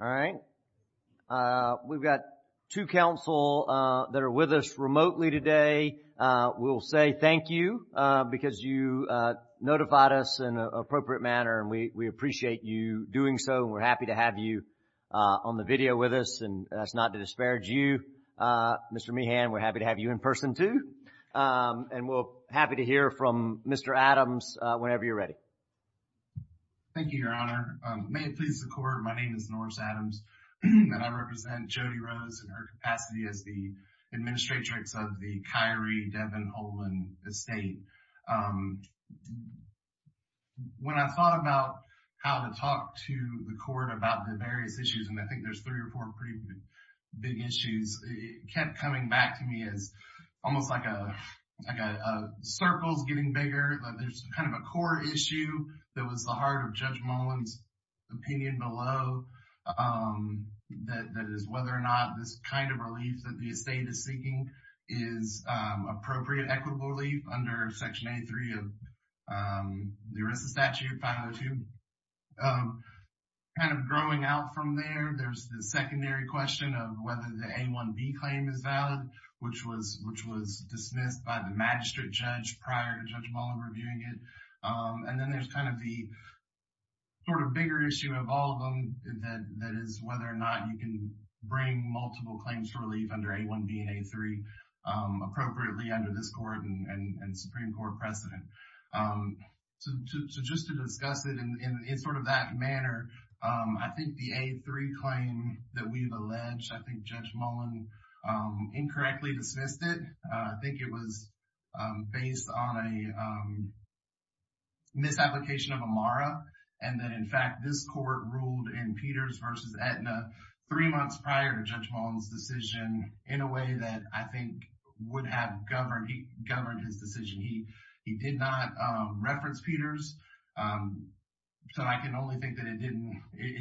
Alright. We've got two counsel that are with us remotely today. We'll say thank you because you notified us in an appropriate manner and we appreciate you doing so. We're happy to have you on the video with us and that's not to disparage you, Mr. Meehan. We're happy to have you in person too. And we're happy to hear from Mr. Adams whenever you're ready. Thank you, Your Honor. May it please the Court, my name is Norris Adams and I represent Jody Rose in her capacity as the Administratrix of the Kyrie Devon Olin Estate. When I thought about how to talk to the Court about the various issues, and I think there's three or four pretty big issues, it kept coming back to me as almost like a circle's getting bigger, but there's kind of a core issue that was the heart of Judge Mullin's opinion below, that is whether or not this kind of relief that the estate is seeking is appropriate equitable relief under Section A3 of the Arrested Statute 502. Kind of growing out from there, there's the secondary question of whether the A1B claim is valid, which was dismissed by the magistrate judge prior to Judge Mullin reviewing it. And then there's kind of the sort of bigger issue of all of them that is whether or not you can bring multiple claims to relief under A1B and A3 appropriately under this Court and Supreme Court precedent. So just to discuss it in sort of that manner, I think the A3 claim that we've alleged, I think Judge Mullin incorrectly dismissed it. I think it was based on a misapplication of Amara, and that in fact this Court ruled in Peters versus Aetna three months prior to Judge Mullin's decision in a way that I think would have governed his decision. He did not reference Peters, so I can only think that it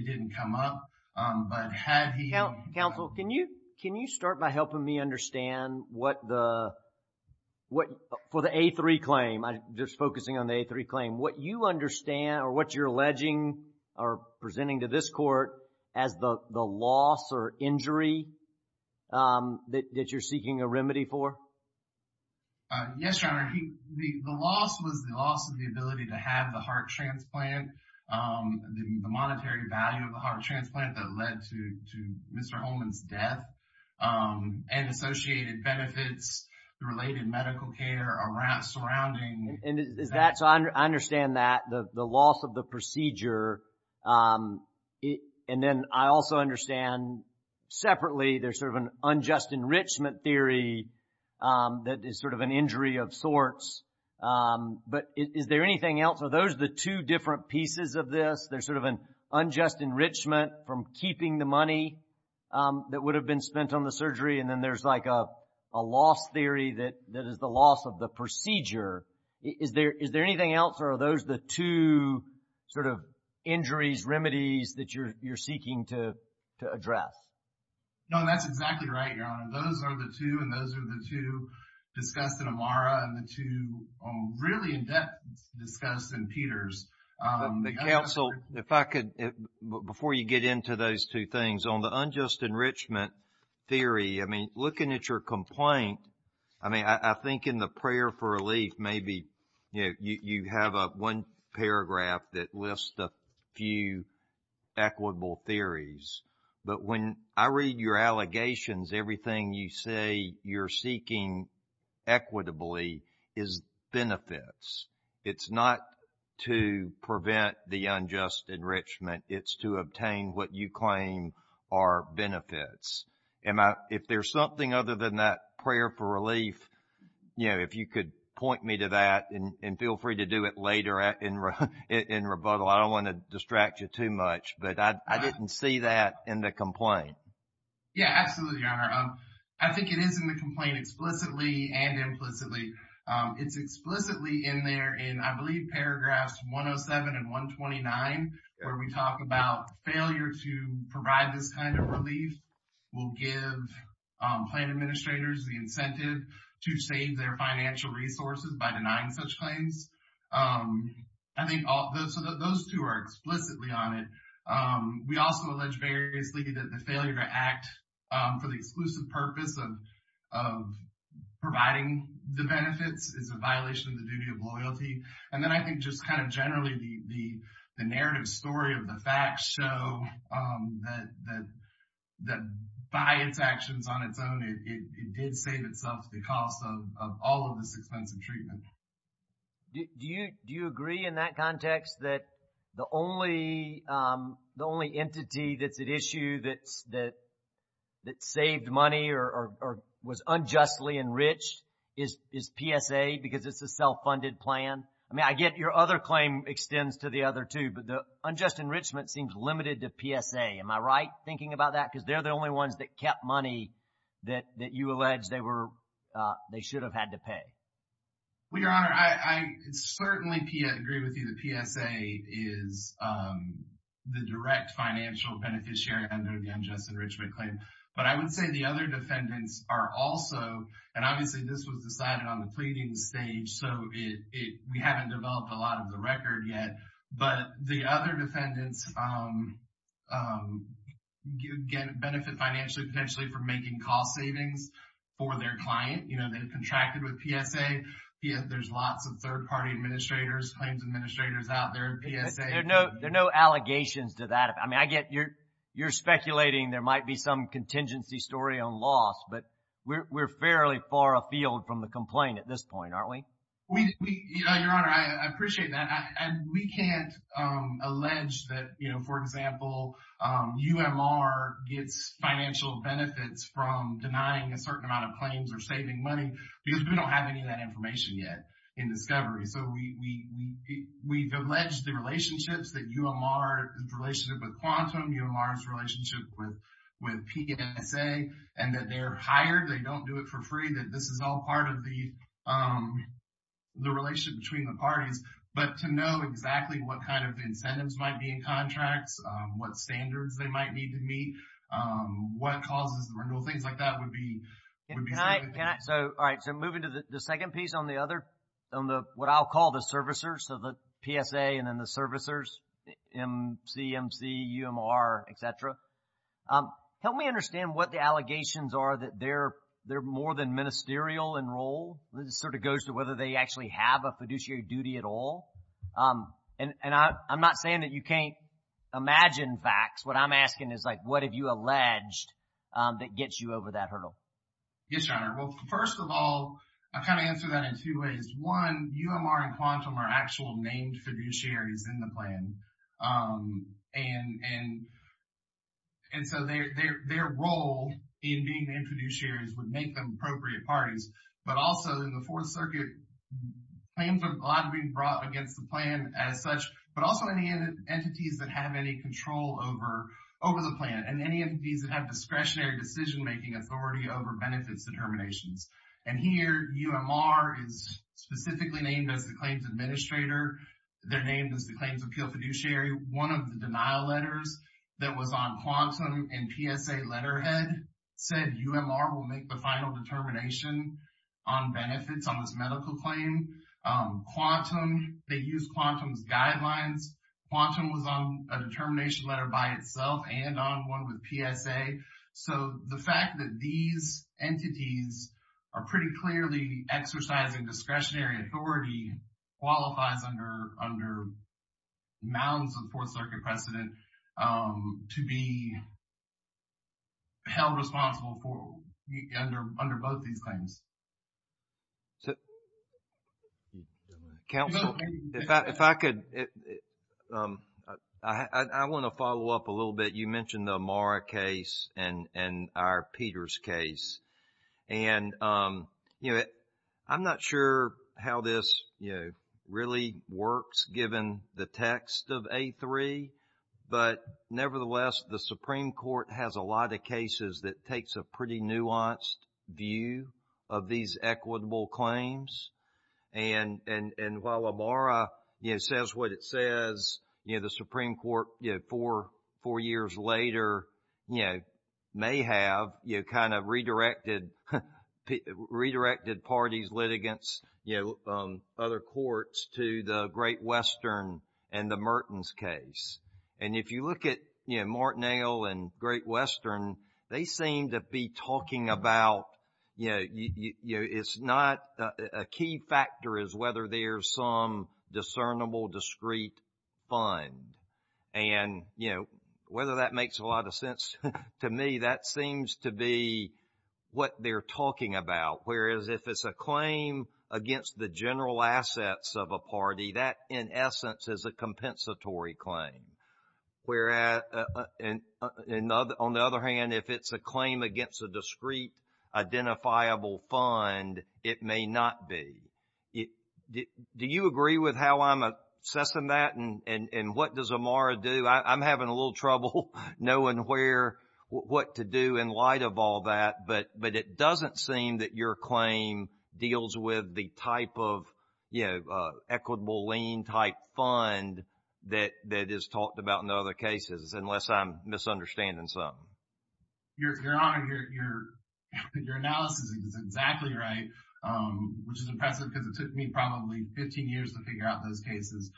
didn't come up, but had he- Counsel, can you start by helping me understand what the, for the A3 claim, just focusing on the A3 claim, what you understand or what you're alleging or presenting to this Court as the loss or injury that you're seeking a remedy for? Yes, Your Honor. The loss was the loss of the ability to have the heart transplant, the monetary value of the heart transplant that led to Mr. Holman's death, and associated benefits, the related medical care surrounding- And is that, so I understand that, the loss of the procedure, and then I also understand separately there's sort of an unjust enrichment theory that is sort of an injury of sorts, but is there anything else? Are those the two different pieces of this? There's sort of an unjust enrichment from keeping the money that would have been spent on the surgery, and then there's like a loss theory that is the loss of the procedure. Is there anything else, or are those the two sort of injuries, remedies that you're seeking to address? No, that's exactly right, Your Honor. Those are the two, and those are the two discussed in Amara, and the two really in-depth discussed in Peters. The counsel, if I could, before you get into those two things, on the unjust enrichment theory, I mean, looking at your complaint, I mean, I think in the prayer for relief, maybe you have one paragraph that lists a few equitable theories, but when I read your allegations, everything you say you're seeking equitably is benefits. It's not to prevent the unjust enrichment. It's to obtain what you claim are benefits. If there's something other than that for relief, if you could point me to that, and feel free to do it later in rebuttal. I don't want to distract you too much, but I didn't see that in the complaint. Yeah, absolutely, Your Honor. I think it is in the complaint explicitly and implicitly. It's explicitly in there in, I believe, paragraphs 107 and 129, where we talk about failure to provide this kind of relief will give plan administrators the incentive to save their financial resources by denying such claims. I think those two are explicitly on it. We also allege variously that the failure to act for the exclusive purpose of providing the benefits is a violation of the duty of loyalty. Then I think just kind of generally the narrative story of the facts show that by its actions on its own, it did save itself the cost of all of this expensive treatment. Do you agree in that context that the only entity that's at issue that saved money or was unjustly enriched is PSA because it's a self-funded plan? I mean, I get your other claim extends to the other two, but the unjust enrichment seems limited to PSA. Am I right thinking about that? Because they're the only ones that kept money that you allege they should have had to pay. Well, Your Honor, I certainly agree with you that PSA is the direct financial beneficiary under the unjust enrichment claim. But I would say the other defendants are also, and obviously this was decided on the pleading stage, so we haven't developed a lot of the record yet. But the other defendants benefit financially potentially from making cost savings for their client. They've contracted with PSA. There's lots of third-party administrators, claims administrators out there in PSA. There are no allegations to that. I mean, you're speculating there might be some contingency story on loss, but we're fairly far afield from the complaint at this point, aren't we? Your Honor, I appreciate that. We can't allege that, for example, UMR gets financial benefits from denying a certain amount of claims or saving money because we don't have any of that information yet in discovery. So we've alleged the relationships that UMR's relationship with Quantum, UMR's relationship with PSA, and that they're hired, they don't do it for free, that this is all part of the relationship between the parties. But to know exactly what kind of incentives might be in contracts, what standards they might need to meet, what causes the renewal, things like that would be significant. So, all right, so moving to the second piece on the other, on the, what I'll call the servicers, so the PSA and then the servicers, MC, MC, UMR, et cetera. Help me understand what the allegations are that they're more than ministerial in role. It sort of goes to whether they actually have a fiduciary duty at all. And I'm not saying that you can't imagine facts. What I'm asking is like, what have you alleged that gets you over that hurdle? Yes, Your Honor. Well, first of all, I've kind of answered that in two ways. One, UMR and Quantum are actual named fiduciaries in the plan. And so, their role in being named fiduciaries would make them appropriate parties. But also, in the Fourth Circuit, claims are allowed to be brought against the plan as such, but also any entities that have any control over the plan, and any entities that have discretionary decision-making authority over the plan. So, they're named as the claims administrator. They're named as the claims appeal fiduciary. One of the denial letters that was on Quantum and PSA letterhead said, UMR will make the final determination on benefits on this medical claim. Quantum, they use Quantum's guidelines. Quantum was on a determination letter by itself and on one with PSA. So, the fact that these entities are pretty clearly exercising discretionary authority qualifies under mounds of the Fourth Circuit precedent to be held responsible for under both these claims. Counsel, if I could, I want to follow up a little bit. You mentioned the Amara case. And our Peters case. And I'm not sure how this really works, given the text of A3. But nevertheless, the Supreme Court has a lot of cases that takes a pretty nuanced view of these equitable claims. And while Amara says what it says, the Supreme Court, four years later, may have kind of redirected parties, litigants, other courts to the Great Western and the Mertens case. And if you look at Martinell and Great Western, they seem to be whether that makes a lot of sense to me, that seems to be what they're talking about. Whereas, if it's a claim against the general assets of a party, that, in essence, is a compensatory claim. On the other hand, if it's a claim against a discrete identifiable fund, it may not be. Do you agree with how I'm assessing that? And what does Amara do? I'm having a little trouble knowing where, what to do in light of all that. But it doesn't seem that your claim deals with the type of, you know, equitable lien type fund that is talked about in other cases, unless I'm misunderstanding something. Your Honor, your analysis is exactly right, which is impressive because it took me probably 15 years to figure out those cases.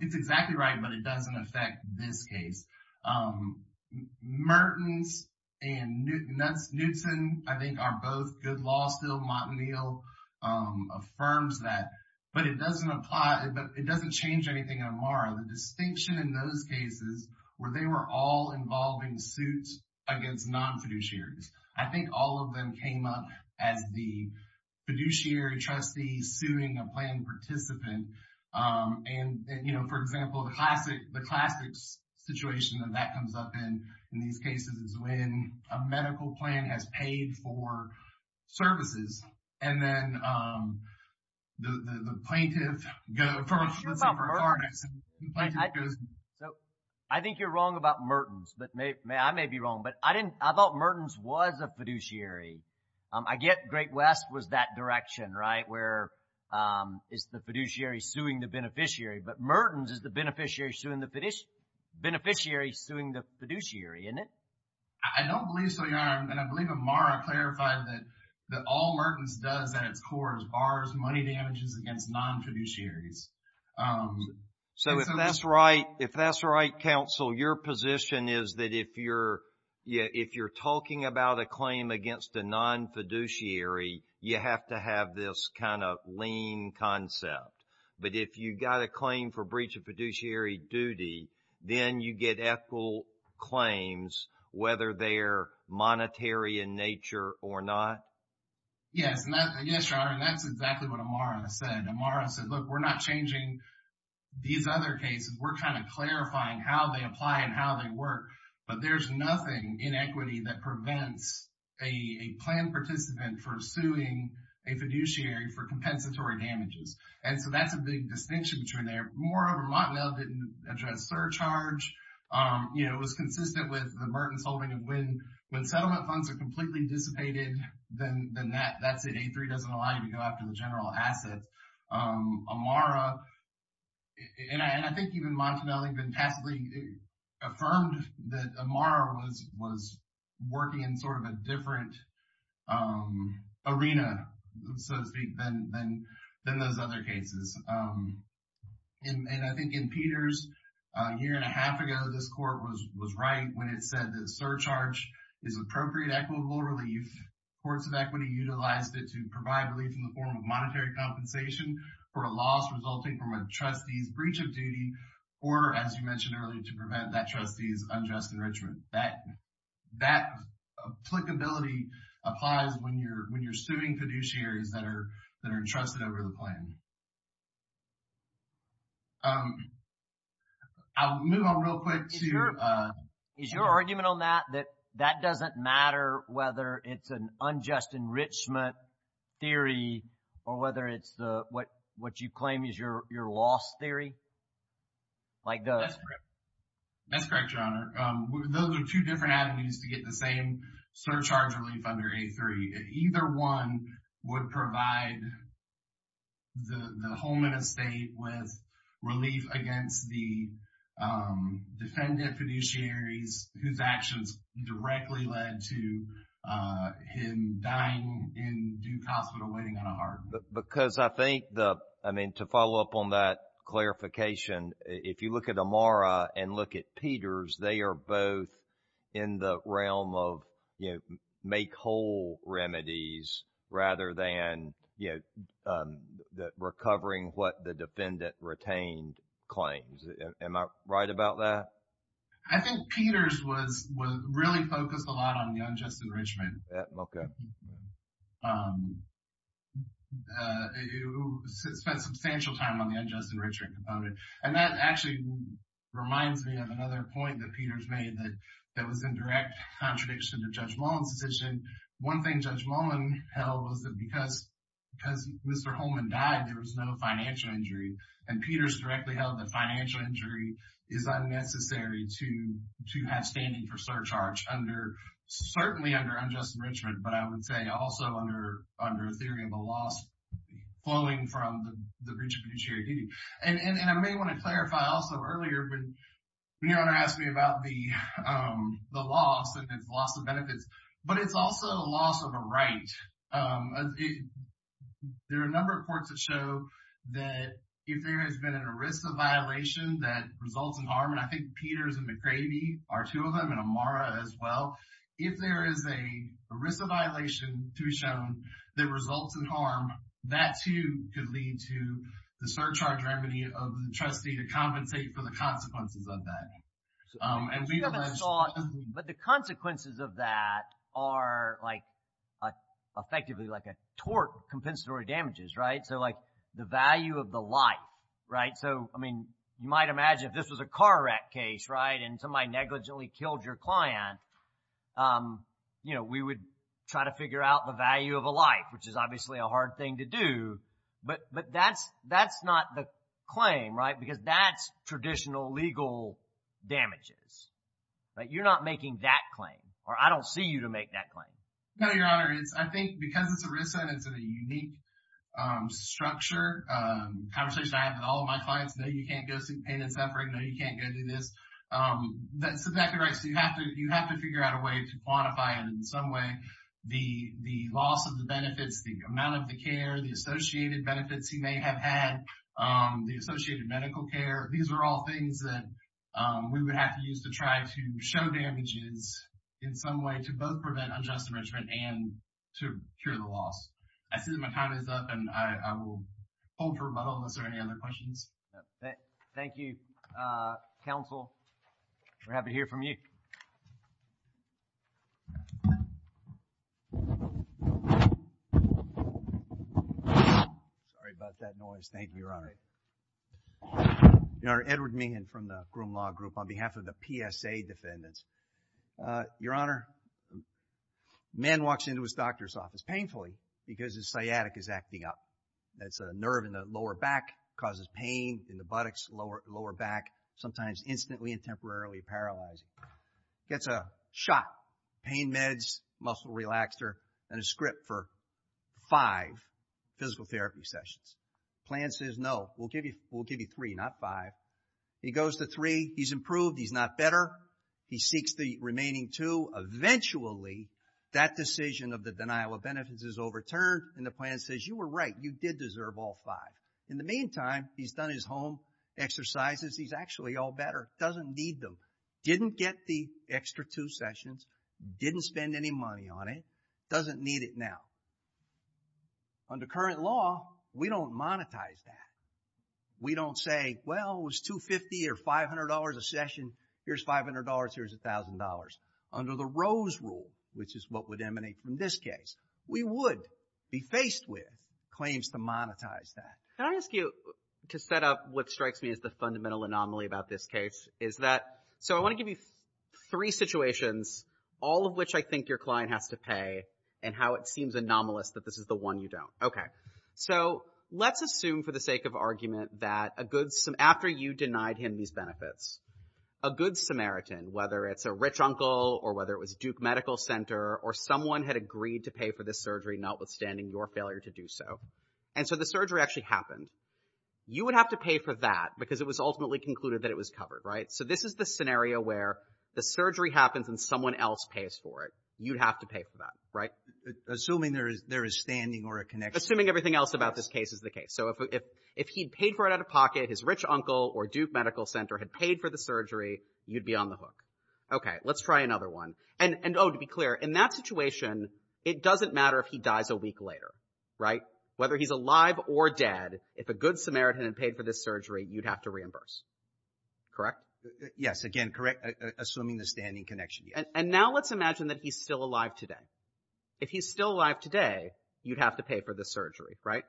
It's exactly right, but it doesn't affect this case. Mertens and Newton, I think, are both good law still. Martinell affirms that. But it doesn't apply, but it doesn't change anything in Amara. The distinction in those cases were they were all involving suits against non-fiduciaries. I think all of them came up as the fiduciary trustee suing a plan participant. And, you know, for example, the classic situation that that comes up in, in these cases, is when a medical plan has paid for services. And then the plaintiff goes... I think you're wrong about Mertens. I may be wrong, but I didn't... I thought Mertens was a fiduciary. I get Great West was that direction, right, where it's the fiduciary suing the beneficiary. But Mertens is the beneficiary suing the fiduciary, isn't it? I don't believe so, Your Honor. And I believe Amara clarified that all Mertens does at its core is bars money damages against non-fiduciaries. So, if that's right, counsel, your position is that if you're talking about a claim against a non-fiduciary, you have to have this kind of lean concept. But if you got a claim for breach of fiduciary duty, then you get ethical claims, whether they're monetary in nature or not? Yes. Yes, Your Honor. And that's exactly what Amara said. Amara said, look, we're not changing these other cases. We're kind of clarifying how they apply and how they work. But there's nothing in equity that prevents a plan participant for suing a fiduciary for compensatory damages. And so, that's a big distinction between there. Moreover, Mottenel didn't address surcharge. It was consistent with the Mertens holding of when settlement funds are completely dissipated, then that's it. A3 doesn't allow you to go after the general asset. Amara, and I think even Mottenel, I think, fantastically affirmed that Amara was working in sort of a different arena, so to speak, than those other cases. And I think in Peters, a year and a half ago, this court was right when it said that is appropriate equitable relief. Courts of equity utilized it to provide relief in the form of monetary compensation for a loss resulting from a trustee's breach of duty or, as you mentioned earlier, to prevent that trustee's unjust enrichment. That applicability applies when you're suing fiduciaries that are entrusted over the plan. I'll move on real quick to- Is your argument on that that that doesn't matter whether it's an unjust enrichment theory or whether it's what you claim is your loss theory? Mike does. That's correct, Your Honor. Those are two different avenues to get the same surcharge relief under A3. Either one would provide the home and estate with relief against the defendant fiduciaries whose actions directly led to him dying in due hospital waiting on a heart. Because I think the, I mean, to follow up on that clarification, if you look at Amara and look at Peters, they are both in the realm of, you know, make whole remedies rather than, you know, recovering what the defendant retained claims. Am I right about that? I think Peters was really focused a lot on the unjust enrichment. Yeah, okay. Spent substantial time on the unjust enrichment component. And that actually reminds me of another point that Peters made that was in direct contradiction to Judge Mullen's decision. One thing Judge Mullen held was that because Mr. Holman died, there was no financial injury. And Peters directly held that financial injury is unnecessary to have standing for surcharge under, certainly under unjust enrichment, but I would say also under a theory of a loss flowing from the fiduciary duty. And I may want to clarify also earlier when a loss of a right. There are a number of courts that show that if there has been an ERISA violation that results in harm, and I think Peters and McCravey are two of them and Amara as well. If there is a ERISA violation to be shown that results in harm, that too could lead to the surcharge remedy of the trustee to compensate for the consequences of that. And we haven't saw, but the consequences of that are like effectively like a tort compensatory damages, right? So like the value of the life, right? So I mean, you might imagine if this was a car wreck case, right? And somebody negligently killed your client, you know, we would try to figure out the value of a life, which is obviously a hard thing to do. But that's not the claim, because that's traditional legal damages, right? You're not making that claim, or I don't see you to make that claim. No, your honor. I think because it's ERISA and it's in a unique structure, conversation I have with all of my clients, no, you can't go seek payment separate. No, you can't go do this. That's exactly right. So you have to figure out a way to quantify it in some way. The loss of the benefits, the amount of the care, the associated benefits he may have had, the associated medical care. These are all things that we would have to use to try to show damages in some way to both prevent unjust enrichment and to cure the loss. I see that my time is up and I will hold for rebuttal unless there are any other questions. Thank you, counsel. We're happy to hear from you. Sorry about that noise. Thank you, your honor. Your honor, Edward Meehan from the Groom Law Group on behalf of the PSA defendants. Your honor, a man walks into his doctor's office painfully because his sciatic is acting up. That's a nerve in the lower back, causes pain in the buttocks, lower back, sometimes instantly and temporarily paralyzing. Gets a shot, pain meds, muscle relaxer, and a script for five physical therapy sessions. Plan says, no, we'll give you three, not five. He goes to three, he's improved, he's not better. He seeks the remaining two. Eventually that decision of the denial of benefits is overturned and the plan says, you were right, you did deserve all five. In the meantime, he's done his home exercises, he's actually all better, doesn't need them. Didn't get the extra two sessions, didn't spend any money on it, doesn't need it now. Under current law, we don't monetize that. We don't say, well, it was $250 or $500 a session, here's $500, here's $1,000. Under the Rose Rule, which is what would emanate from this case, we would be faced with claims to monetize that. Can I ask you to set up what strikes me as the fundamental anomaly about this case, is that, so I want to give you three situations, all of which I think your client has to pay, and how it seems anomalous that this is the one you don't. Okay, so let's assume for the sake of argument that a good, after you denied him these benefits, a good Samaritan, whether it's a rich uncle or whether it was Duke Medical Center, or someone had agreed to pay for this surgery notwithstanding your failure to do so. And so the surgery actually happened. You would have to pay for that because it was ultimately concluded that it was covered, right? So this is the scenario where the surgery happens and someone else pays for it. You'd have to pay for that, right? Assuming there is standing or a connection. Assuming everything else about this case is the case. So if he'd paid for it out of pocket, his rich uncle or Duke Medical Center had paid for the surgery, you'd be on the hook. Okay, let's try another one. And oh, to be clear, in that situation, it doesn't matter if he dies a week later, right? Whether he's alive or dead, if a good Samaritan had paid for this surgery, you'd have to reimburse, correct? Yes, again, correct, assuming the standing connection. And now let's imagine that he's still alive today. If he's still alive today, you'd have to pay for the surgery, right?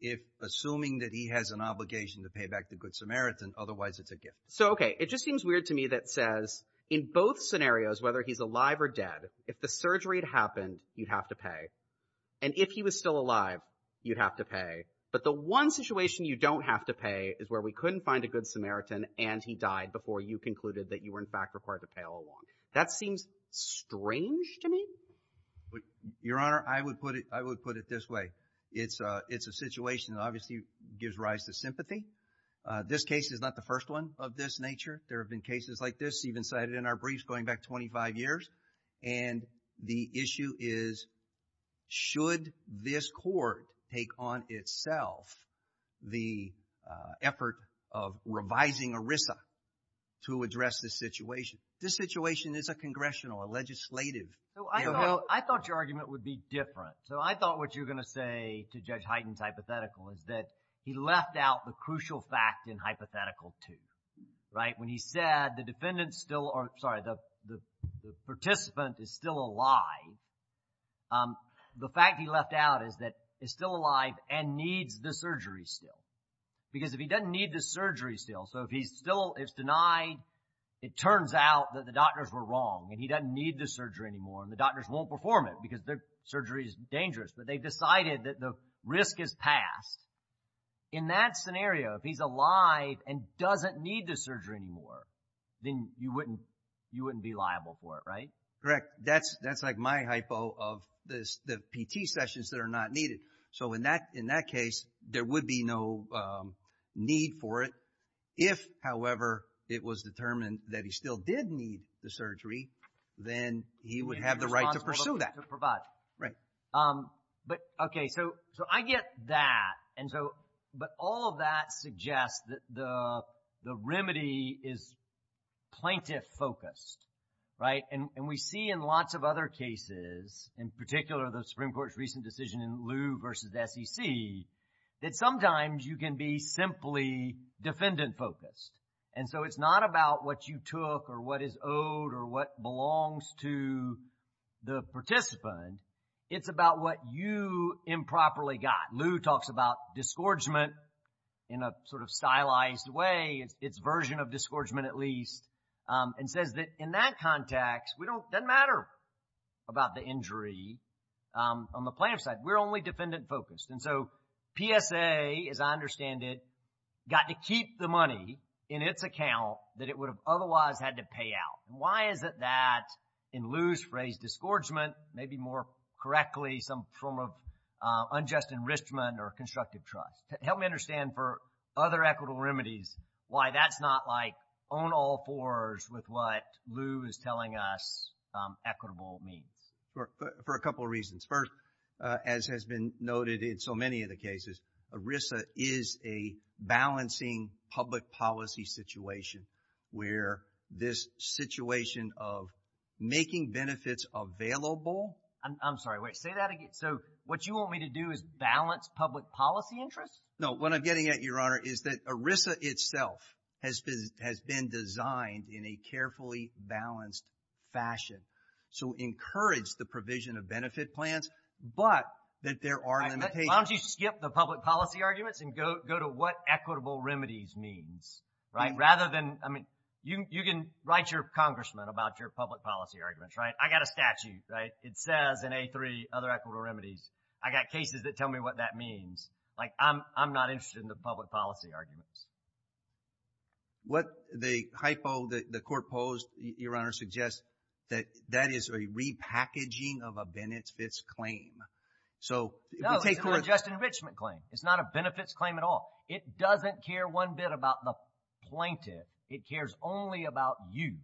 If assuming that he has an obligation to pay back the good Samaritan, otherwise it's a gift. So, okay, it just seems weird to me that says in both scenarios, whether he's alive or dead, if the surgery had happened, you'd have to pay. And if he was still alive, you'd have to pay. But the one situation you don't have to pay is where we couldn't find a good Samaritan and he died before you concluded that you were in fact required to pay all along. That seems strange to me. Your Honor, I would put it, I would put it this way. It's a, it's a situation that obviously gives rise to sympathy. This case is not the first one of this nature. There have been cases like this even cited in our briefs going back 25 years. And the issue is, should this court take on itself the effort of revising ERISA to address this situation? This situation is a congressional, a legislative. So I thought, I thought your argument would be different. So I thought what you're going to say to Judge Hyten's hypothetical is that he left out the crucial fact in hypothetical two, right? When he said the defendant still, or sorry, the, the participant is still alive. The fact he left out is that he's still alive and needs the surgery still. Because if he doesn't need the surgery still, so if he's still, if it's denied, it turns out that the doctors were wrong and he doesn't need the surgery anymore and the doctors won't perform it because the surgery is dangerous. But they decided that the risk is passed. In that scenario, if he's alive and doesn't need the surgery anymore, then you wouldn't, you wouldn't be liable for it, right? Correct. That's, that's like my hypo of this, the PT sessions that are not needed. So in that, in that case, there would be no need for it. If, however, it was determined that he still did need the surgery, then he would have the right to pursue that. To provide. Right. But, okay, so, so I get that. And so, but all of that suggests that the, the remedy is plaintiff focused, right? And, and we see in lots of other cases, in particular, the Supreme Court's recent decision in Lew versus the SEC, that sometimes you can be simply defendant focused. And so it's not about what you took or what is owed or what belongs to the participant. It's about what you improperly got. Lew talks about disgorgement in a sort of stylized way. It's, it's version of disgorgement at least. And says that in that context, we don't, doesn't matter about the injury on the plaintiff's side. We're only defendant focused. And so PSA, as I understand it, got to keep the money in its account that it would have otherwise had to pay out. Why is it that in Lew's phrase, disgorgement, maybe more correctly, some form of unjust enrichment or constructive trust. Help me understand for other equitable remedies, why that's not like own all fours with what Lew is telling us equitable means. For a couple of reasons. First, as has been noted in so many of the cases, ERISA is a balancing public policy situation where this situation of making benefits available. I'm sorry, wait, say that again. So what you want me to do is balance public policy interests? No, what I'm getting at your honor is that ERISA itself has been, has been designed in a carefully balanced fashion. So encourage the provision of benefit plans, but that there are limitations. Why don't you skip the public policy arguments and go, go to what equitable remedies means, right? Rather than, I mean, you, you can write your congressman about your public policy arguments, right? I got a statute, right? It says in A3 other equitable remedies. I got cases that tell me what that means. Like I'm, I'm not interested in the public policy arguments. What the hypo that the court posed your honor suggests that that is a repackaging of a Bennett claim. So just enrichment claim. It's not a benefits claim at all. It doesn't care one bit about the plaintiff. It cares only about you.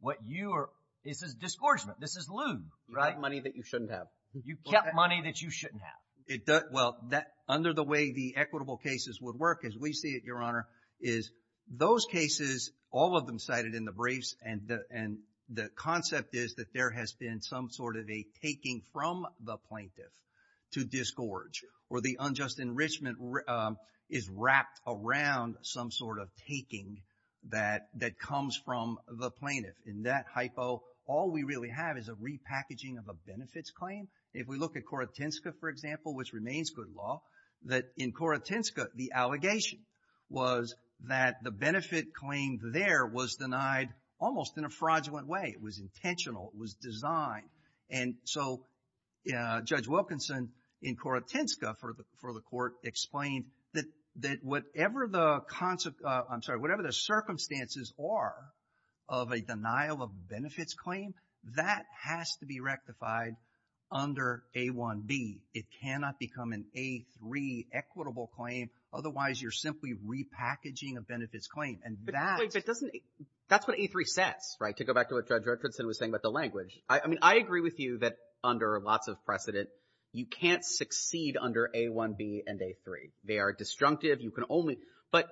What you are, this is disgorgement. This is lube, right? Money that you shouldn't have. You kept money that you shouldn't have. It does. Well, that under the way, the equitable cases would work as we see it. Your honor is those cases, all of them cited in the briefs. And the, and the concept is that there has been some sort of a taking from the plaintiff to disgorge or the unjust enrichment is wrapped around some sort of taking that, that comes from the plaintiff. In that hypo, all we really have is a repackaging of a benefits claim. If we look at Korotinska, for example, which remains good law, that in Korotinska, the allegation was that the benefit claimed there was denied almost in a sign. And so Judge Wilkinson in Korotinska for the, for the court explained that, that whatever the concept, I'm sorry, whatever the circumstances are of a denial of benefits claim, that has to be rectified under A1B. It cannot become an A3 equitable claim. Otherwise you're simply repackaging a benefits claim. And that. Wait, but doesn't, that's what A3 says, right? To go back to what I mean, I agree with you that under lots of precedent, you can't succeed under A1B and A3. They are disjunctive. You can only, but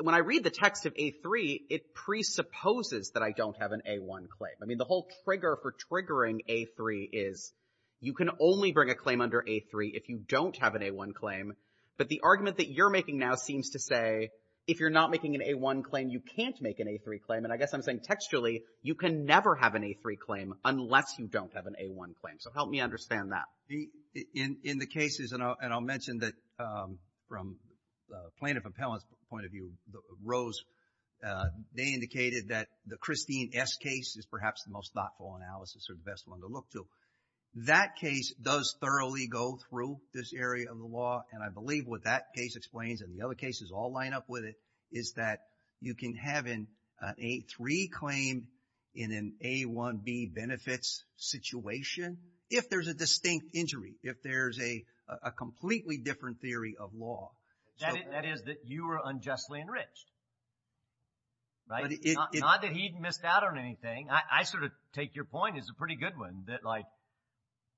when I read the text of A3, it presupposes that I don't have an A1 claim. I mean, the whole trigger for triggering A3 is you can only bring a claim under A3 if you don't have an A1 claim. But the argument that you're making now seems to say, if you're not making an A1 claim, you can't make an A3 claim. And I guess I'm saying textually, you can never have an A3 claim unless you don't have an A1 claim. So help me understand that. In the cases, and I'll mention that from plaintiff appellant's point of view, Rose, they indicated that the Christine S case is perhaps the most thoughtful analysis or the best one to look to. That case does thoroughly go through this area of the law. And I believe what that case explains and the other cases all line up with it is that you can have an A3 claim in an A1B benefits situation if there's a distinct injury, if there's a completely different theory of law. That is that you were unjustly enriched, right? Not that he missed out on anything. I sort of take your point as a pretty good one that like,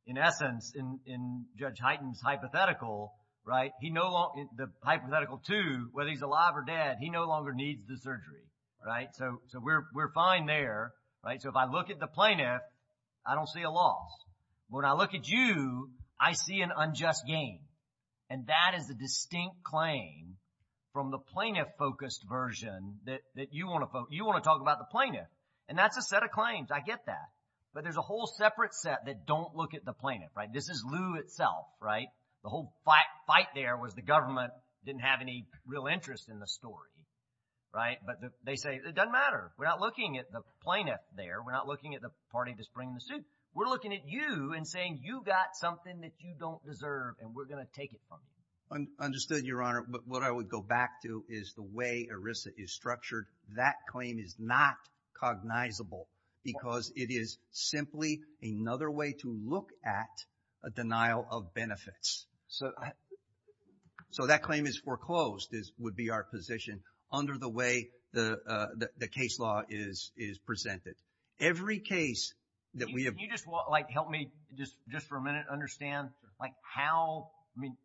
in essence, in Judge Hyten's hypothetical, right, he no longer, the hypothetical two, whether he's alive or dead, he no longer needs the surgery, right? So we're fine there, right? So if I look at the plaintiff, I don't see a loss. When I look at you, I see an unjust gain. And that is the distinct claim from the plaintiff-focused version that you want to talk about the plaintiff. And that's a set of claims. I get that. But there's a whole separate set that don't look at the plaintiff, right? This is Lew itself, right? The whole fight there was the government didn't have any real interest in the story, right? But they say it doesn't matter. We're not looking at the plaintiff there. We're not looking at the party that's bringing the suit. We're looking at you and saying you got something that you don't deserve and we're going to take it. Understood, Your Honor. But what I would go back to is the way ERISA is structured. That claim is not cognizable because it is simply another way to look at a denial of benefits. So that claim is foreclosed, would be our position under the way the case law is presented. Every case that we have- Can you just help me just for a minute understand like how,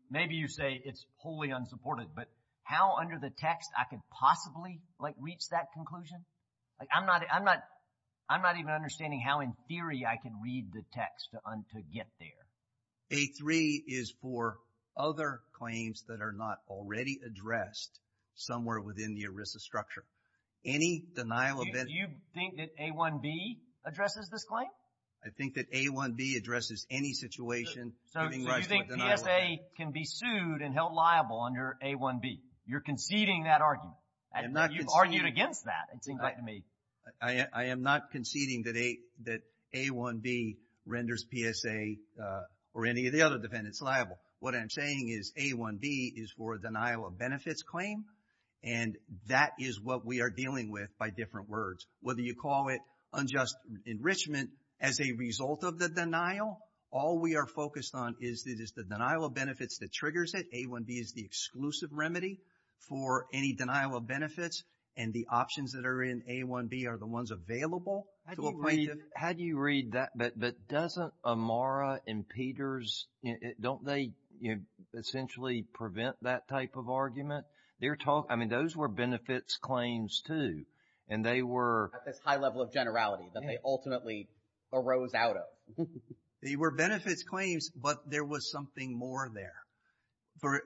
maybe you say it's wholly unsupported, but how under the text I could possibly reach that conclusion? I'm not even understanding how in theory I can read the text to get there. A3 is for other claims that are not already addressed somewhere within the ERISA structure. Any denial of benefits- Do you think that A1B addresses this claim? I think that A1B addresses any situation- So you think PSA can be sued and held liable under A1B. You're conceding that argument. You've argued against that, it seems like to me. I am not conceding that A1B renders PSA or any of the other defendants liable. What I'm saying is A1B is for a denial of benefits claim and that is what we are dealing with by different words. Whether you call it unjust enrichment as a result of the denial, all we are focused on is the denial of benefits that triggers it. A1B is the exclusive remedy for any denial of benefits and the options that are in A1B are the ones available. How do you read that? But doesn't Amara and Peters, don't they essentially prevent that type of argument? Those were benefits claims too and they were- At this high level of generality that they ultimately arose out of. They were benefits claims, but there was something more there.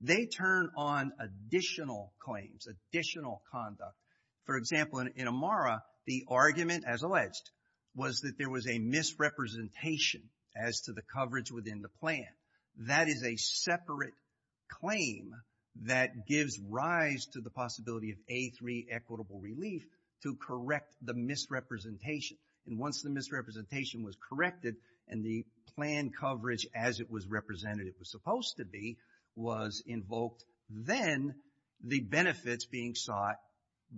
They turn on additional claims, additional conduct. For example, in Amara, the argument as alleged was that there was a misrepresentation as to the coverage within the plan. That is a separate claim that gives rise to the possibility of A3 equitable relief to correct the misrepresentation. And once the misrepresentation was corrected and the plan coverage as it was represented, it was supposed to be, was invoked, then the benefits being sought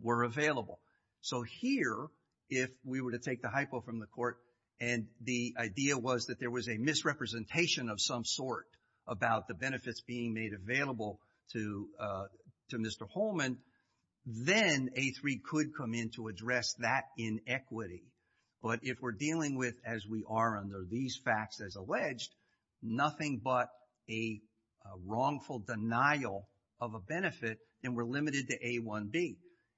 were available. So here, if we were to take the hypo from the court and the idea was that there was a misrepresentation of some sort about the benefits being made available to Mr. Holman, then A3 could come in to address that inequity. But if we're dealing with as we are under these facts as alleged, nothing but a wrongful denial of a benefit and we're limited to A1B.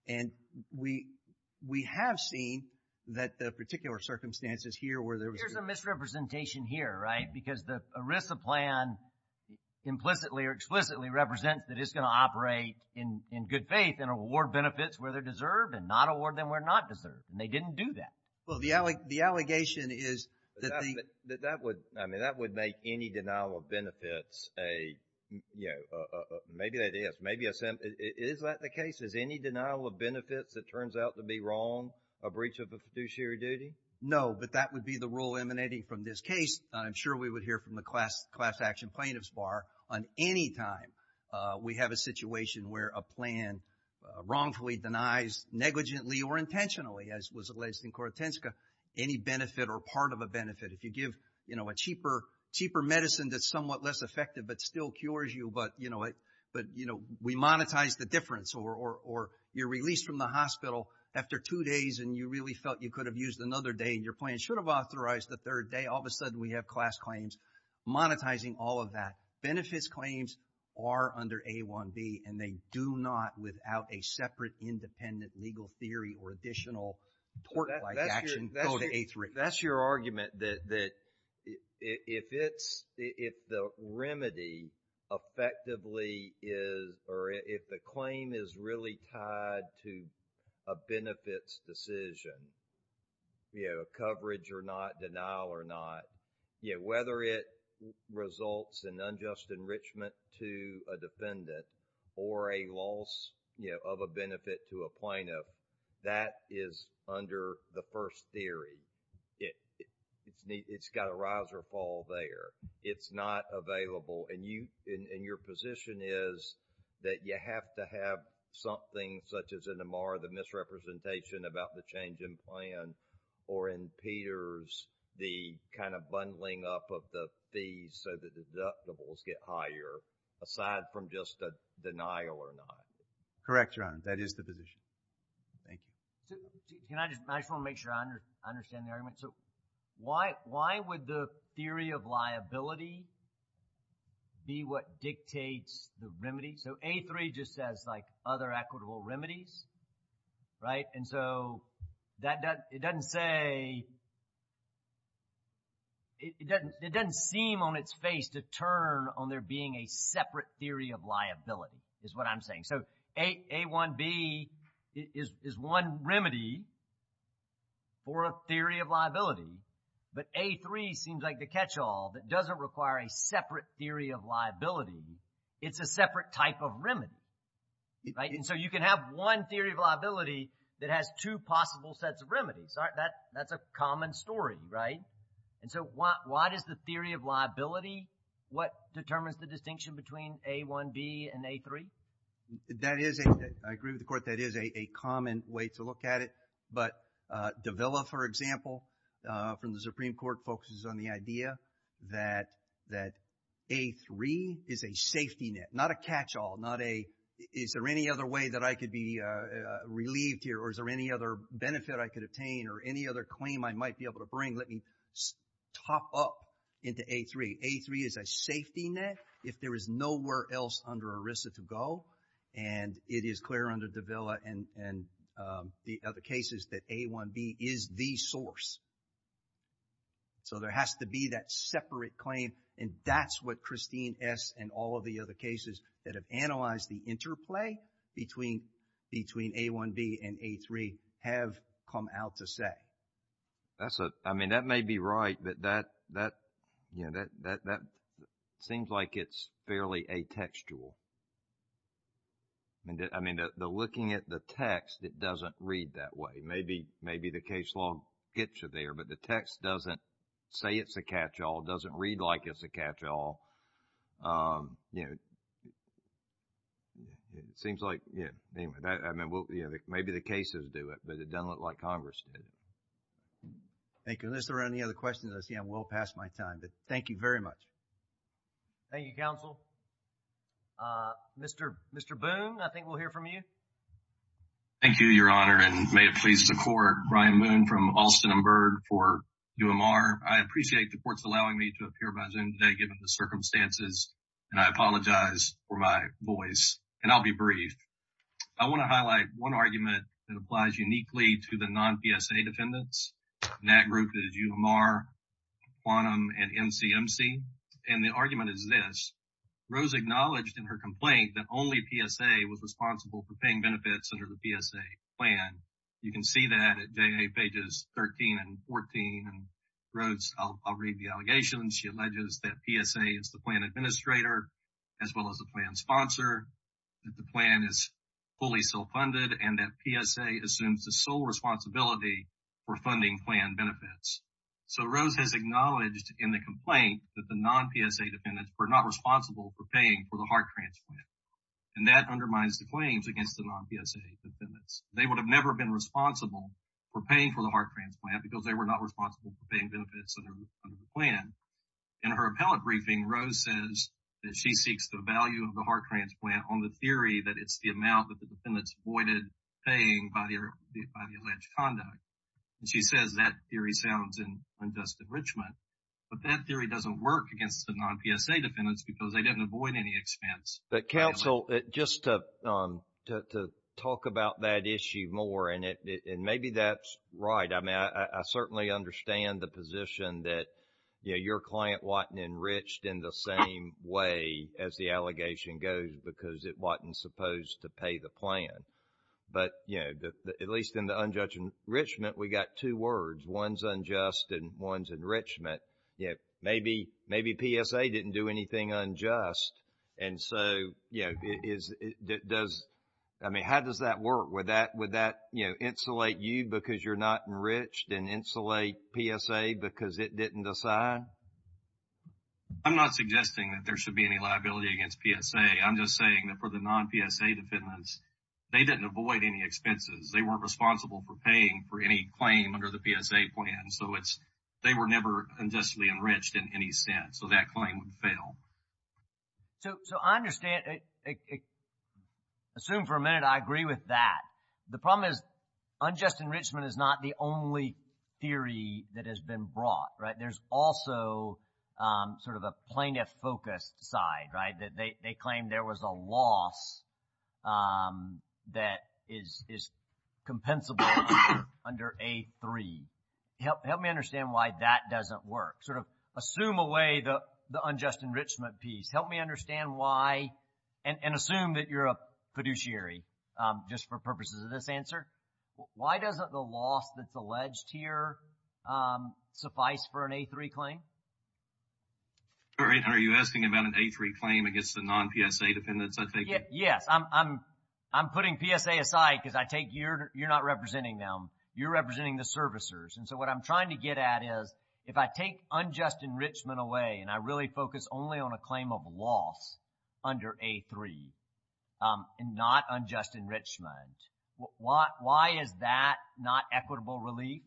And we have seen that the particular circumstances here where there was- There's a misrepresentation here, right? Because the ERISA plan implicitly or explicitly represents that it's going to operate in good faith and award benefits where they're deserved and not award them where not deserved. And they didn't do that. Well, the allegation is that the- That would, I mean, that would make any denial of benefits a, you know, maybe that is, maybe a- Is that the case? Is any denial of benefits that turns out to be wrong a breach of the fiduciary duty? No, but that would be the rule emanating from this case. I'm sure we would hear from the class action plaintiffs bar on any time we have a situation where a plan wrongfully denies negligently or intentionally, as was alleged in Kortenska, any benefit or part of a benefit. If you give, you know, a cheaper, cheaper medicine that's somewhat less effective, but still cures you. But, you know, but, you know, we monetize the difference or you're released from the hospital after two days and you really felt you could have used another day and your plan should have authorized the third day. All of a sudden we have class claims monetizing all of that. Benefits claims are under A1B and they do not, without a separate independent legal theory or additional tort-like action, go to A3. That's your argument that, that if it's, if the remedy effectively is, or if the claim is really tied to a benefits decision, you know, coverage or not, denial or not, you know, whether it results in unjust enrichment to a defendant or a loss, you know, of a benefit to a plaintiff, that is under the first theory. It's got a rise or fall there. It's not available and you, and your position is that you have to something such as in Amar, the misrepresentation about the change in plan, or in Peters, the kind of bundling up of the fees so the deductibles get higher, aside from just a denial or not. Correct, Your Honor. That is the position. Thank you. Can I just, I just want to make sure I understand the argument. So why, why would the theory of liability be what dictates the remedy? So A3 just says like other equitable remedies, right? And so that doesn't, it doesn't say, it doesn't, it doesn't seem on its face to turn on there being a separate theory of liability is what I'm saying. So A1B is one remedy for a theory of liability, but A3 seems like the catch that doesn't require a separate theory of liability. It's a separate type of remedy, right? And so you can have one theory of liability that has two possible sets of remedies, right? That, that's a common story, right? And so why, why does the theory of liability, what determines the distinction between A1B and A3? That is a, I agree with the Court, that is a common way to look at it. But Davila, for example, from the Supreme Court focuses on the idea that, that A3 is a safety net, not a catch-all, not a, is there any other way that I could be relieved here or is there any other benefit I could obtain or any other claim I might be able to bring? Let me top up into A3. A3 is a safety net if there is nowhere else under ERISA to go, and it is clear under Davila and, and the other cases that A1B is the source. So there has to be that separate claim, and that's what Christine S. and all of the other cases that have analyzed the interplay between, between A1B and A3 have come out to say. That's a, I mean, that may be right, but that, that, you know, that, that, that seems like it's fairly atextual. And I mean, the, the looking at the text, it doesn't read that way. Maybe, maybe the case law gets you there, but the text doesn't say it's a catch-all, doesn't read like it's a catch-all. You know, it seems like, yeah, anyway, that, I mean, we'll, you know, maybe the cases do it, but it doesn't look like Congress did it. Thank you. Unless there are any other questions, I see I'm well past my time, but thank you very much. Thank you, counsel. Mr., Mr. Boone, I think we'll hear from you. Thank you, your honor, and may it please the court. Brian Boone from Alston and Byrd for UMR. I appreciate the court's allowing me to appear by Zoom today, given the circumstances, and I apologize for my voice, and I'll be brief. I want to highlight one argument that applies uniquely to the non-PSA defendants, and that group is UMR, Quantum, and MCMC. And the argument is Rose acknowledged in her complaint that only PSA was responsible for paying benefits under the PSA plan. You can see that at pages 13 and 14, and Rose, I'll read the allegations. She alleges that PSA is the plan administrator, as well as the plan sponsor, that the plan is fully self-funded, and that PSA assumes the sole responsibility for funding plan benefits. So Rose has acknowledged in the complaint that the non-PSA defendants were not responsible for paying for the heart transplant, and that undermines the claims against the non-PSA defendants. They would have never been responsible for paying for the heart transplant because they were not responsible for paying benefits under the plan. In her appellate briefing, Rose says that she seeks the value of the heart transplant on the theory that it's the amount that the defendants avoided paying by the alleged conduct. And she says that theory sounds unjust enrichment, but that theory doesn't work against the non-PSA defendants because they didn't avoid any expense. But counsel, just to talk about that issue more, and maybe that's right. I mean, I certainly understand the position that your client wasn't enriched in the same way as the allegation goes because it wasn't supposed to pay the plan. But, you know, at least in the unjust enrichment, we got two words. One's unjust and one's enrichment. Maybe PSA didn't do anything unjust. And so, you know, how does that work? Would that, you know, insulate you because you're not enriched and insulate PSA because it didn't decide? I'm not suggesting that there should be any liability against PSA. I'm just saying that for the non-PSA defendants, they didn't avoid any expenses. They weren't responsible for paying for any claim under the PSA plan. So it's, they were never unjustly enriched in any sense. So that claim would fail. So I understand. Assume for a minute I agree with that. The problem is unjust enrichment is not the only theory that has been brought, right? There's also sort of a plaintiff-focused side, right, that they claim there was a loss that is compensable under A3. Help me understand why that doesn't work. Sort of assume away the unjust enrichment piece. Help me understand why, and assume that you're a fiduciary just for purposes of this answer. Why doesn't the loss that's alleged here suffice for an A3 claim? All right. Are you asking about an A3 claim against the non-PSA defendants, I take it? Yes. I'm putting PSA aside because I take your, you're not representing them. You're representing the servicers. And so what I'm trying to get at is if I take unjust enrichment away and I really focus only on a claim of loss under A3 and not unjust enrichment, why is that not equitable relief?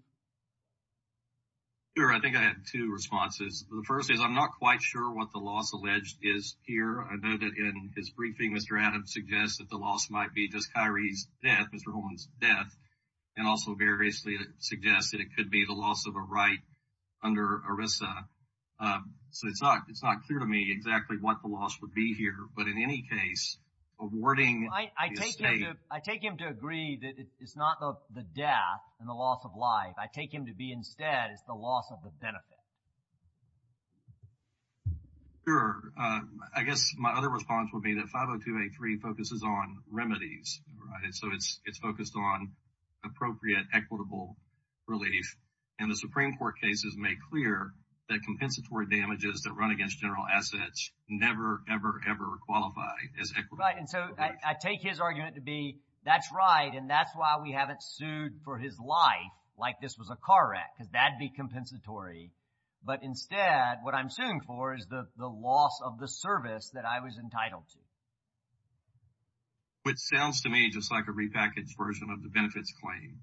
Sure. I think I had two responses. The first is I'm not quite sure what the loss alleged is here. I know that in his briefing, Mr. Adams suggests that the loss might be DesKyrie's death, Mr. Holman's death, and also variously suggests that it could be the loss of a right under ERISA. So it's not, it's not clear to me exactly what the loss would be here, but in any case, awarding the estate... I take him to agree that it's not the death and the loss of life. I take him to be instead, it's the loss of the benefit. Sure. I guess my other response would be that 50283 focuses on remedies, right? So it's focused on appropriate equitable relief. And the Supreme Court cases make clear that compensatory damages that run against general assets never, ever, ever qualify as equitable relief. Right. And so I take his argument to be that's right. And that's why we haven't sued for his life, like this was a car wreck, because that'd be compensatory. But instead, what I'm suing for is the loss of the service that I was entitled to. Which sounds to me just like a repackaged version of the benefits claim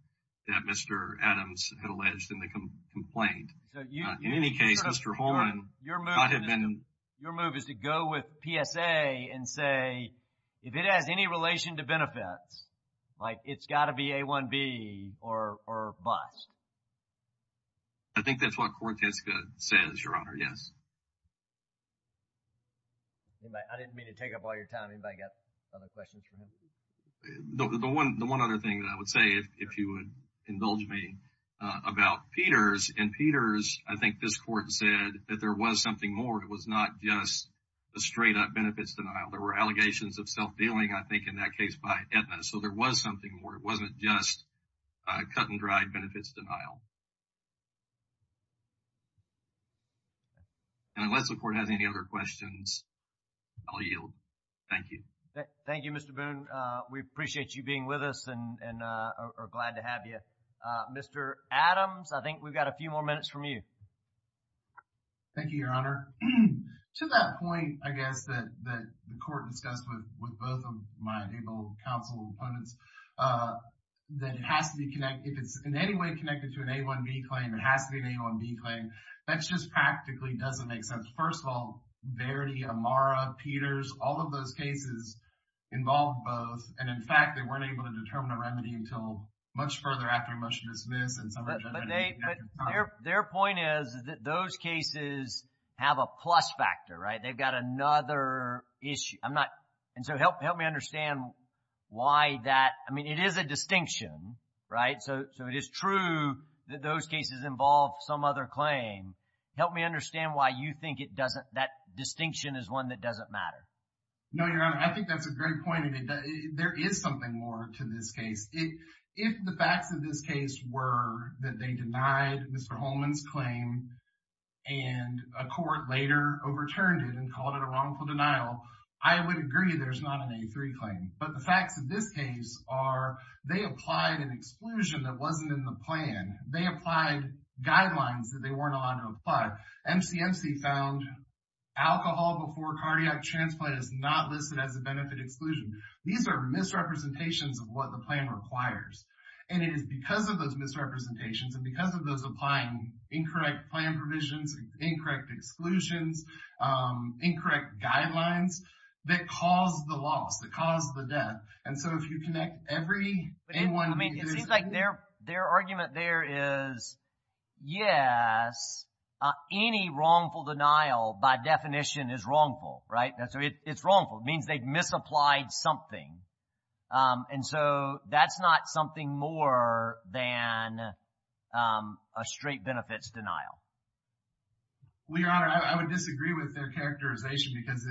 that Mr. Adams had alleged in the complaint. In any case, Mr. Holman, your move is to go with PSA and say, if it has any relation to benefits, like it's got to be A1B or bust. I think that's what Cortesca says, Your Honor. Yes. I didn't mean to take up all your time. Anybody got other questions for him? The one other thing that I would say, if you would indulge me, about Peters. In Peters, I think this court said that there was something more. It was not just a straight-up benefits denial. There were allegations of self-dealing, I think, in that case by Aetna. So there was something more. It wasn't just a cut-and-dry benefits denial. And unless the court has any other questions, I'll yield. Thank you. Thank you, Mr. Boone. We appreciate you being with us and are glad to have you. Mr. Adams, I think we've got a few more minutes from you. Thank you, Your Honor. To that point, I guess, that the court discussed with both of my able counsel opponents, that it has to be connected. If it's in any way connected to an A1B claim, it has to be an A1B claim. That just practically doesn't make sense. First of all, Verity, Amara, Peters, all of those cases involved both. And in fact, they weren't able to determine a remedy until much further after a motion is dismissed. But their point is that those cases have a plus factor, right? They've got another issue. And so help me understand why that... I mean, it is a distinction, right? So it is true that those cases involve some other claim. Help me understand why you think that distinction is one that doesn't matter. No, Your Honor. I think that's a great point. There is something more to this case. If the facts of this case were that they denied Mr. Holman's claim and a court later overturned it and called it a wrongful denial, I would agree there's not an A3 claim. But the facts of this case are they applied an exclusion that wasn't in the plan. They applied guidelines that they weren't allowed to apply. MCMC found alcohol before cardiac transplant is not listed as a because of those misrepresentations and because of those applying incorrect plan provisions, incorrect exclusions, incorrect guidelines that caused the loss, that caused the death. And so if you connect every... I mean, it seems like their argument there is, yes, any wrongful denial by definition is wrongful, right? It's wrongful. It means they've misapplied something. And so that's not something more than a straight benefits denial. Well, Your Honor, I would disagree with their characterization because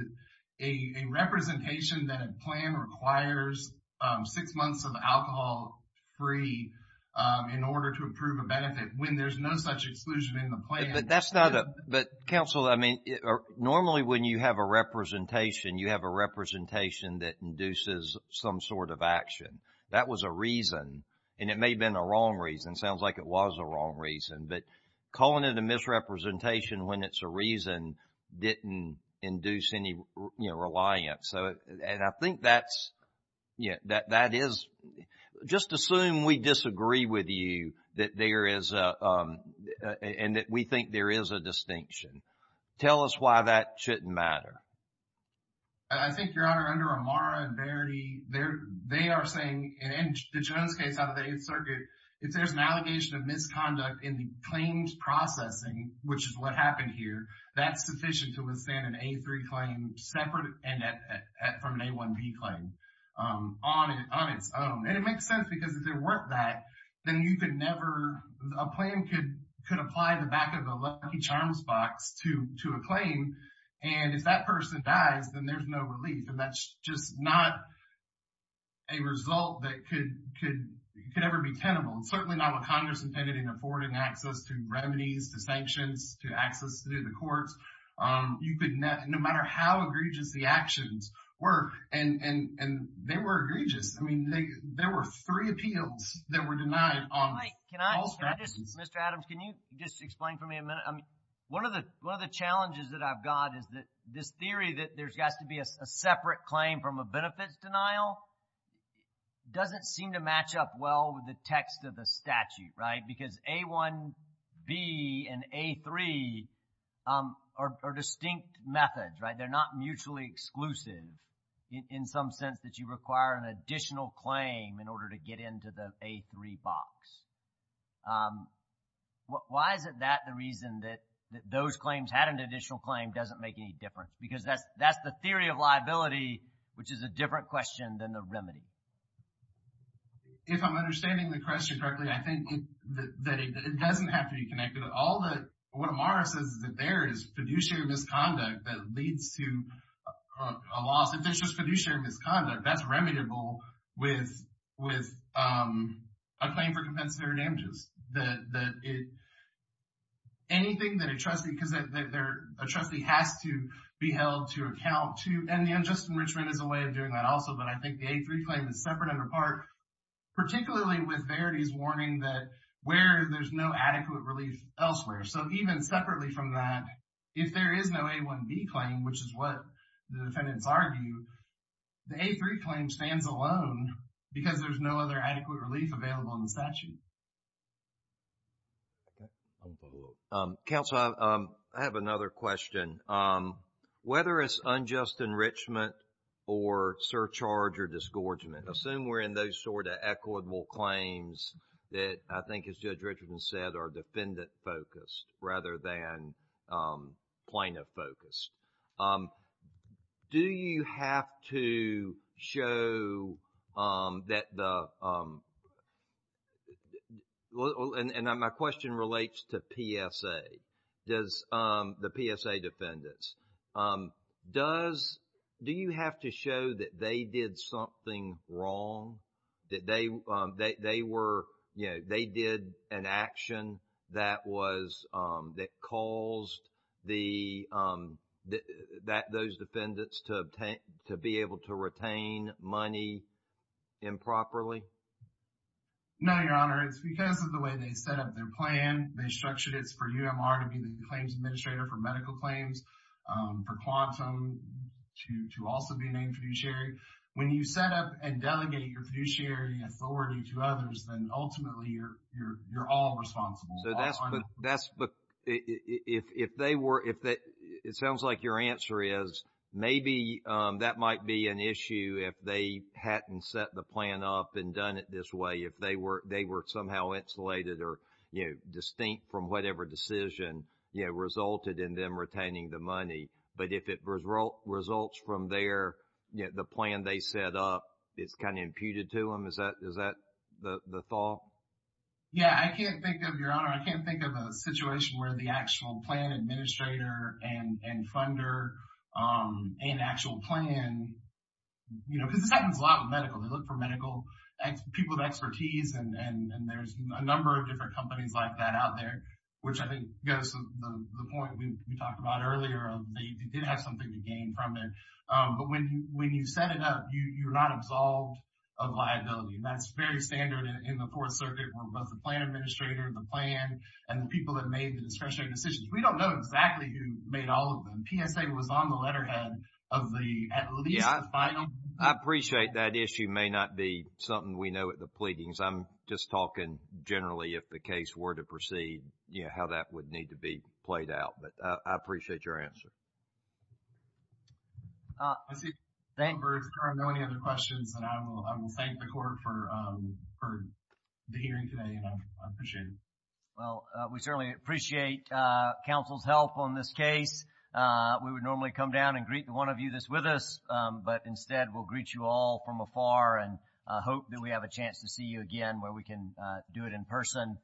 a representation that a plan requires six months of alcohol free in order to approve a benefit when there's no such exclusion in the plan. But that's not a... But counsel, I mean, normally when you have a representation, you have a representation that induces some sort of action. That was a reason. And it may have been a wrong reason. Sounds like it was a wrong reason. But calling it a misrepresentation when it's a reason didn't induce any, you know, reliance. So, and I think that's, yeah, that is... Just assume we disagree with you that there is a, and that we think there is a distinction. Tell us why that shouldn't matter. I think, Your Honor, under Amara and Verity, they are saying, and in the Jones case out of the Eighth Circuit, if there's an allegation of misconduct in the claims processing, which is what happened here, that's sufficient to withstand an A3 claim separate from an A1B claim on its own. And it makes sense because if there weren't that, then you could never... A plan could apply the back of a Lucky Charms box to a claim. And if that person dies, then there's no relief. And that's just not a result that could ever be tenable. And certainly not what Congress intended in affording access to remedies, to sanctions, to access to the courts. You could, no matter how egregious the actions were, and they were egregious. I mean, there were three appeals that were denied on all statutes. Mr. Adams, can you just explain for me a minute? One of the challenges that I've got is that this theory that there's got to be a separate claim from a benefits denial doesn't seem to match up well with the text of the statute, right? Because A1B and A3 are distinct methods, right? They're not mutually exclusive in some sense that you require an additional claim in order to get into the A3 box. Why is it that the reason that those claims had an additional claim doesn't make any difference? Because that's the theory of liability, which is a different question than the remedy. If I'm understanding the question correctly, I think that it doesn't have to be connected. What Amara says is that there is fiduciary misconduct that leads to a loss. If there's just fiduciary misconduct, that's remediable with a claim for compensatory damages. Anything that a trustee, because a trustee has to be held to account to, and the unjust enrichment is a way of doing that also, but I think the A3 claim is separate under particularly with Verity's warning that where there's no adequate relief elsewhere. So even separately from that, if there is no A1B claim, which is what the defendants argue, the A3 claim stands alone because there's no other adequate relief available in the statute. Counsel, I have another question. Whether it's unjust enrichment or surcharge or those sort of equitable claims that I think, as Judge Richardson said, are defendant-focused rather than plaintiff-focused, do you have to show that the... and my question relates to PSA, the PSA defendants. Do you have to show that they did something wrong, that they did an action that caused those defendants to be able to retain money improperly? No, Your Honor. It's because of the way they set up their plan. They structured it for UMR to be the claims administrator for medical claims, for Quantum to also be named fiduciary. When you set up and delegate your fiduciary authority to others, then ultimately you're all responsible. So that's... but if they were... it sounds like your answer is maybe that might be an issue if they hadn't set the plan up and done it this way, if they were somehow insulated or distinct from whatever decision resulted in them retaining the money. But if it results from their... the plan they set up, it's kind of imputed to them. Is that the thought? Yeah. I can't think of... Your Honor, I can't think of a situation where the actual plan administrator and funder and actual plan... you know, because this happens a lot with medical. They look for medical... people with expertise, and there's a number of different companies like that out there, which I think goes to the point we talked about earlier. They did have something to gain from it. But when you set it up, you're not absolved of liability. And that's very standard in the Fourth Circuit where both the plan administrator and the plan and the people that made the discretionary decisions. We don't know exactly who made all of them. PSA was on the letterhead of the... at least the final... Yeah. I appreciate that issue may not be something we know at the pleadings. I'm just talking generally if the case were to proceed how that would need to be played out. But I appreciate your answer. I see no other questions, and I will thank the Court for the hearing today, and I appreciate it. Well, we certainly appreciate counsel's help on this case. We would normally come down and greet the one of you that's with us, but instead we'll greet you all from afar and hope that we have a chance to see you again where we can do it in person.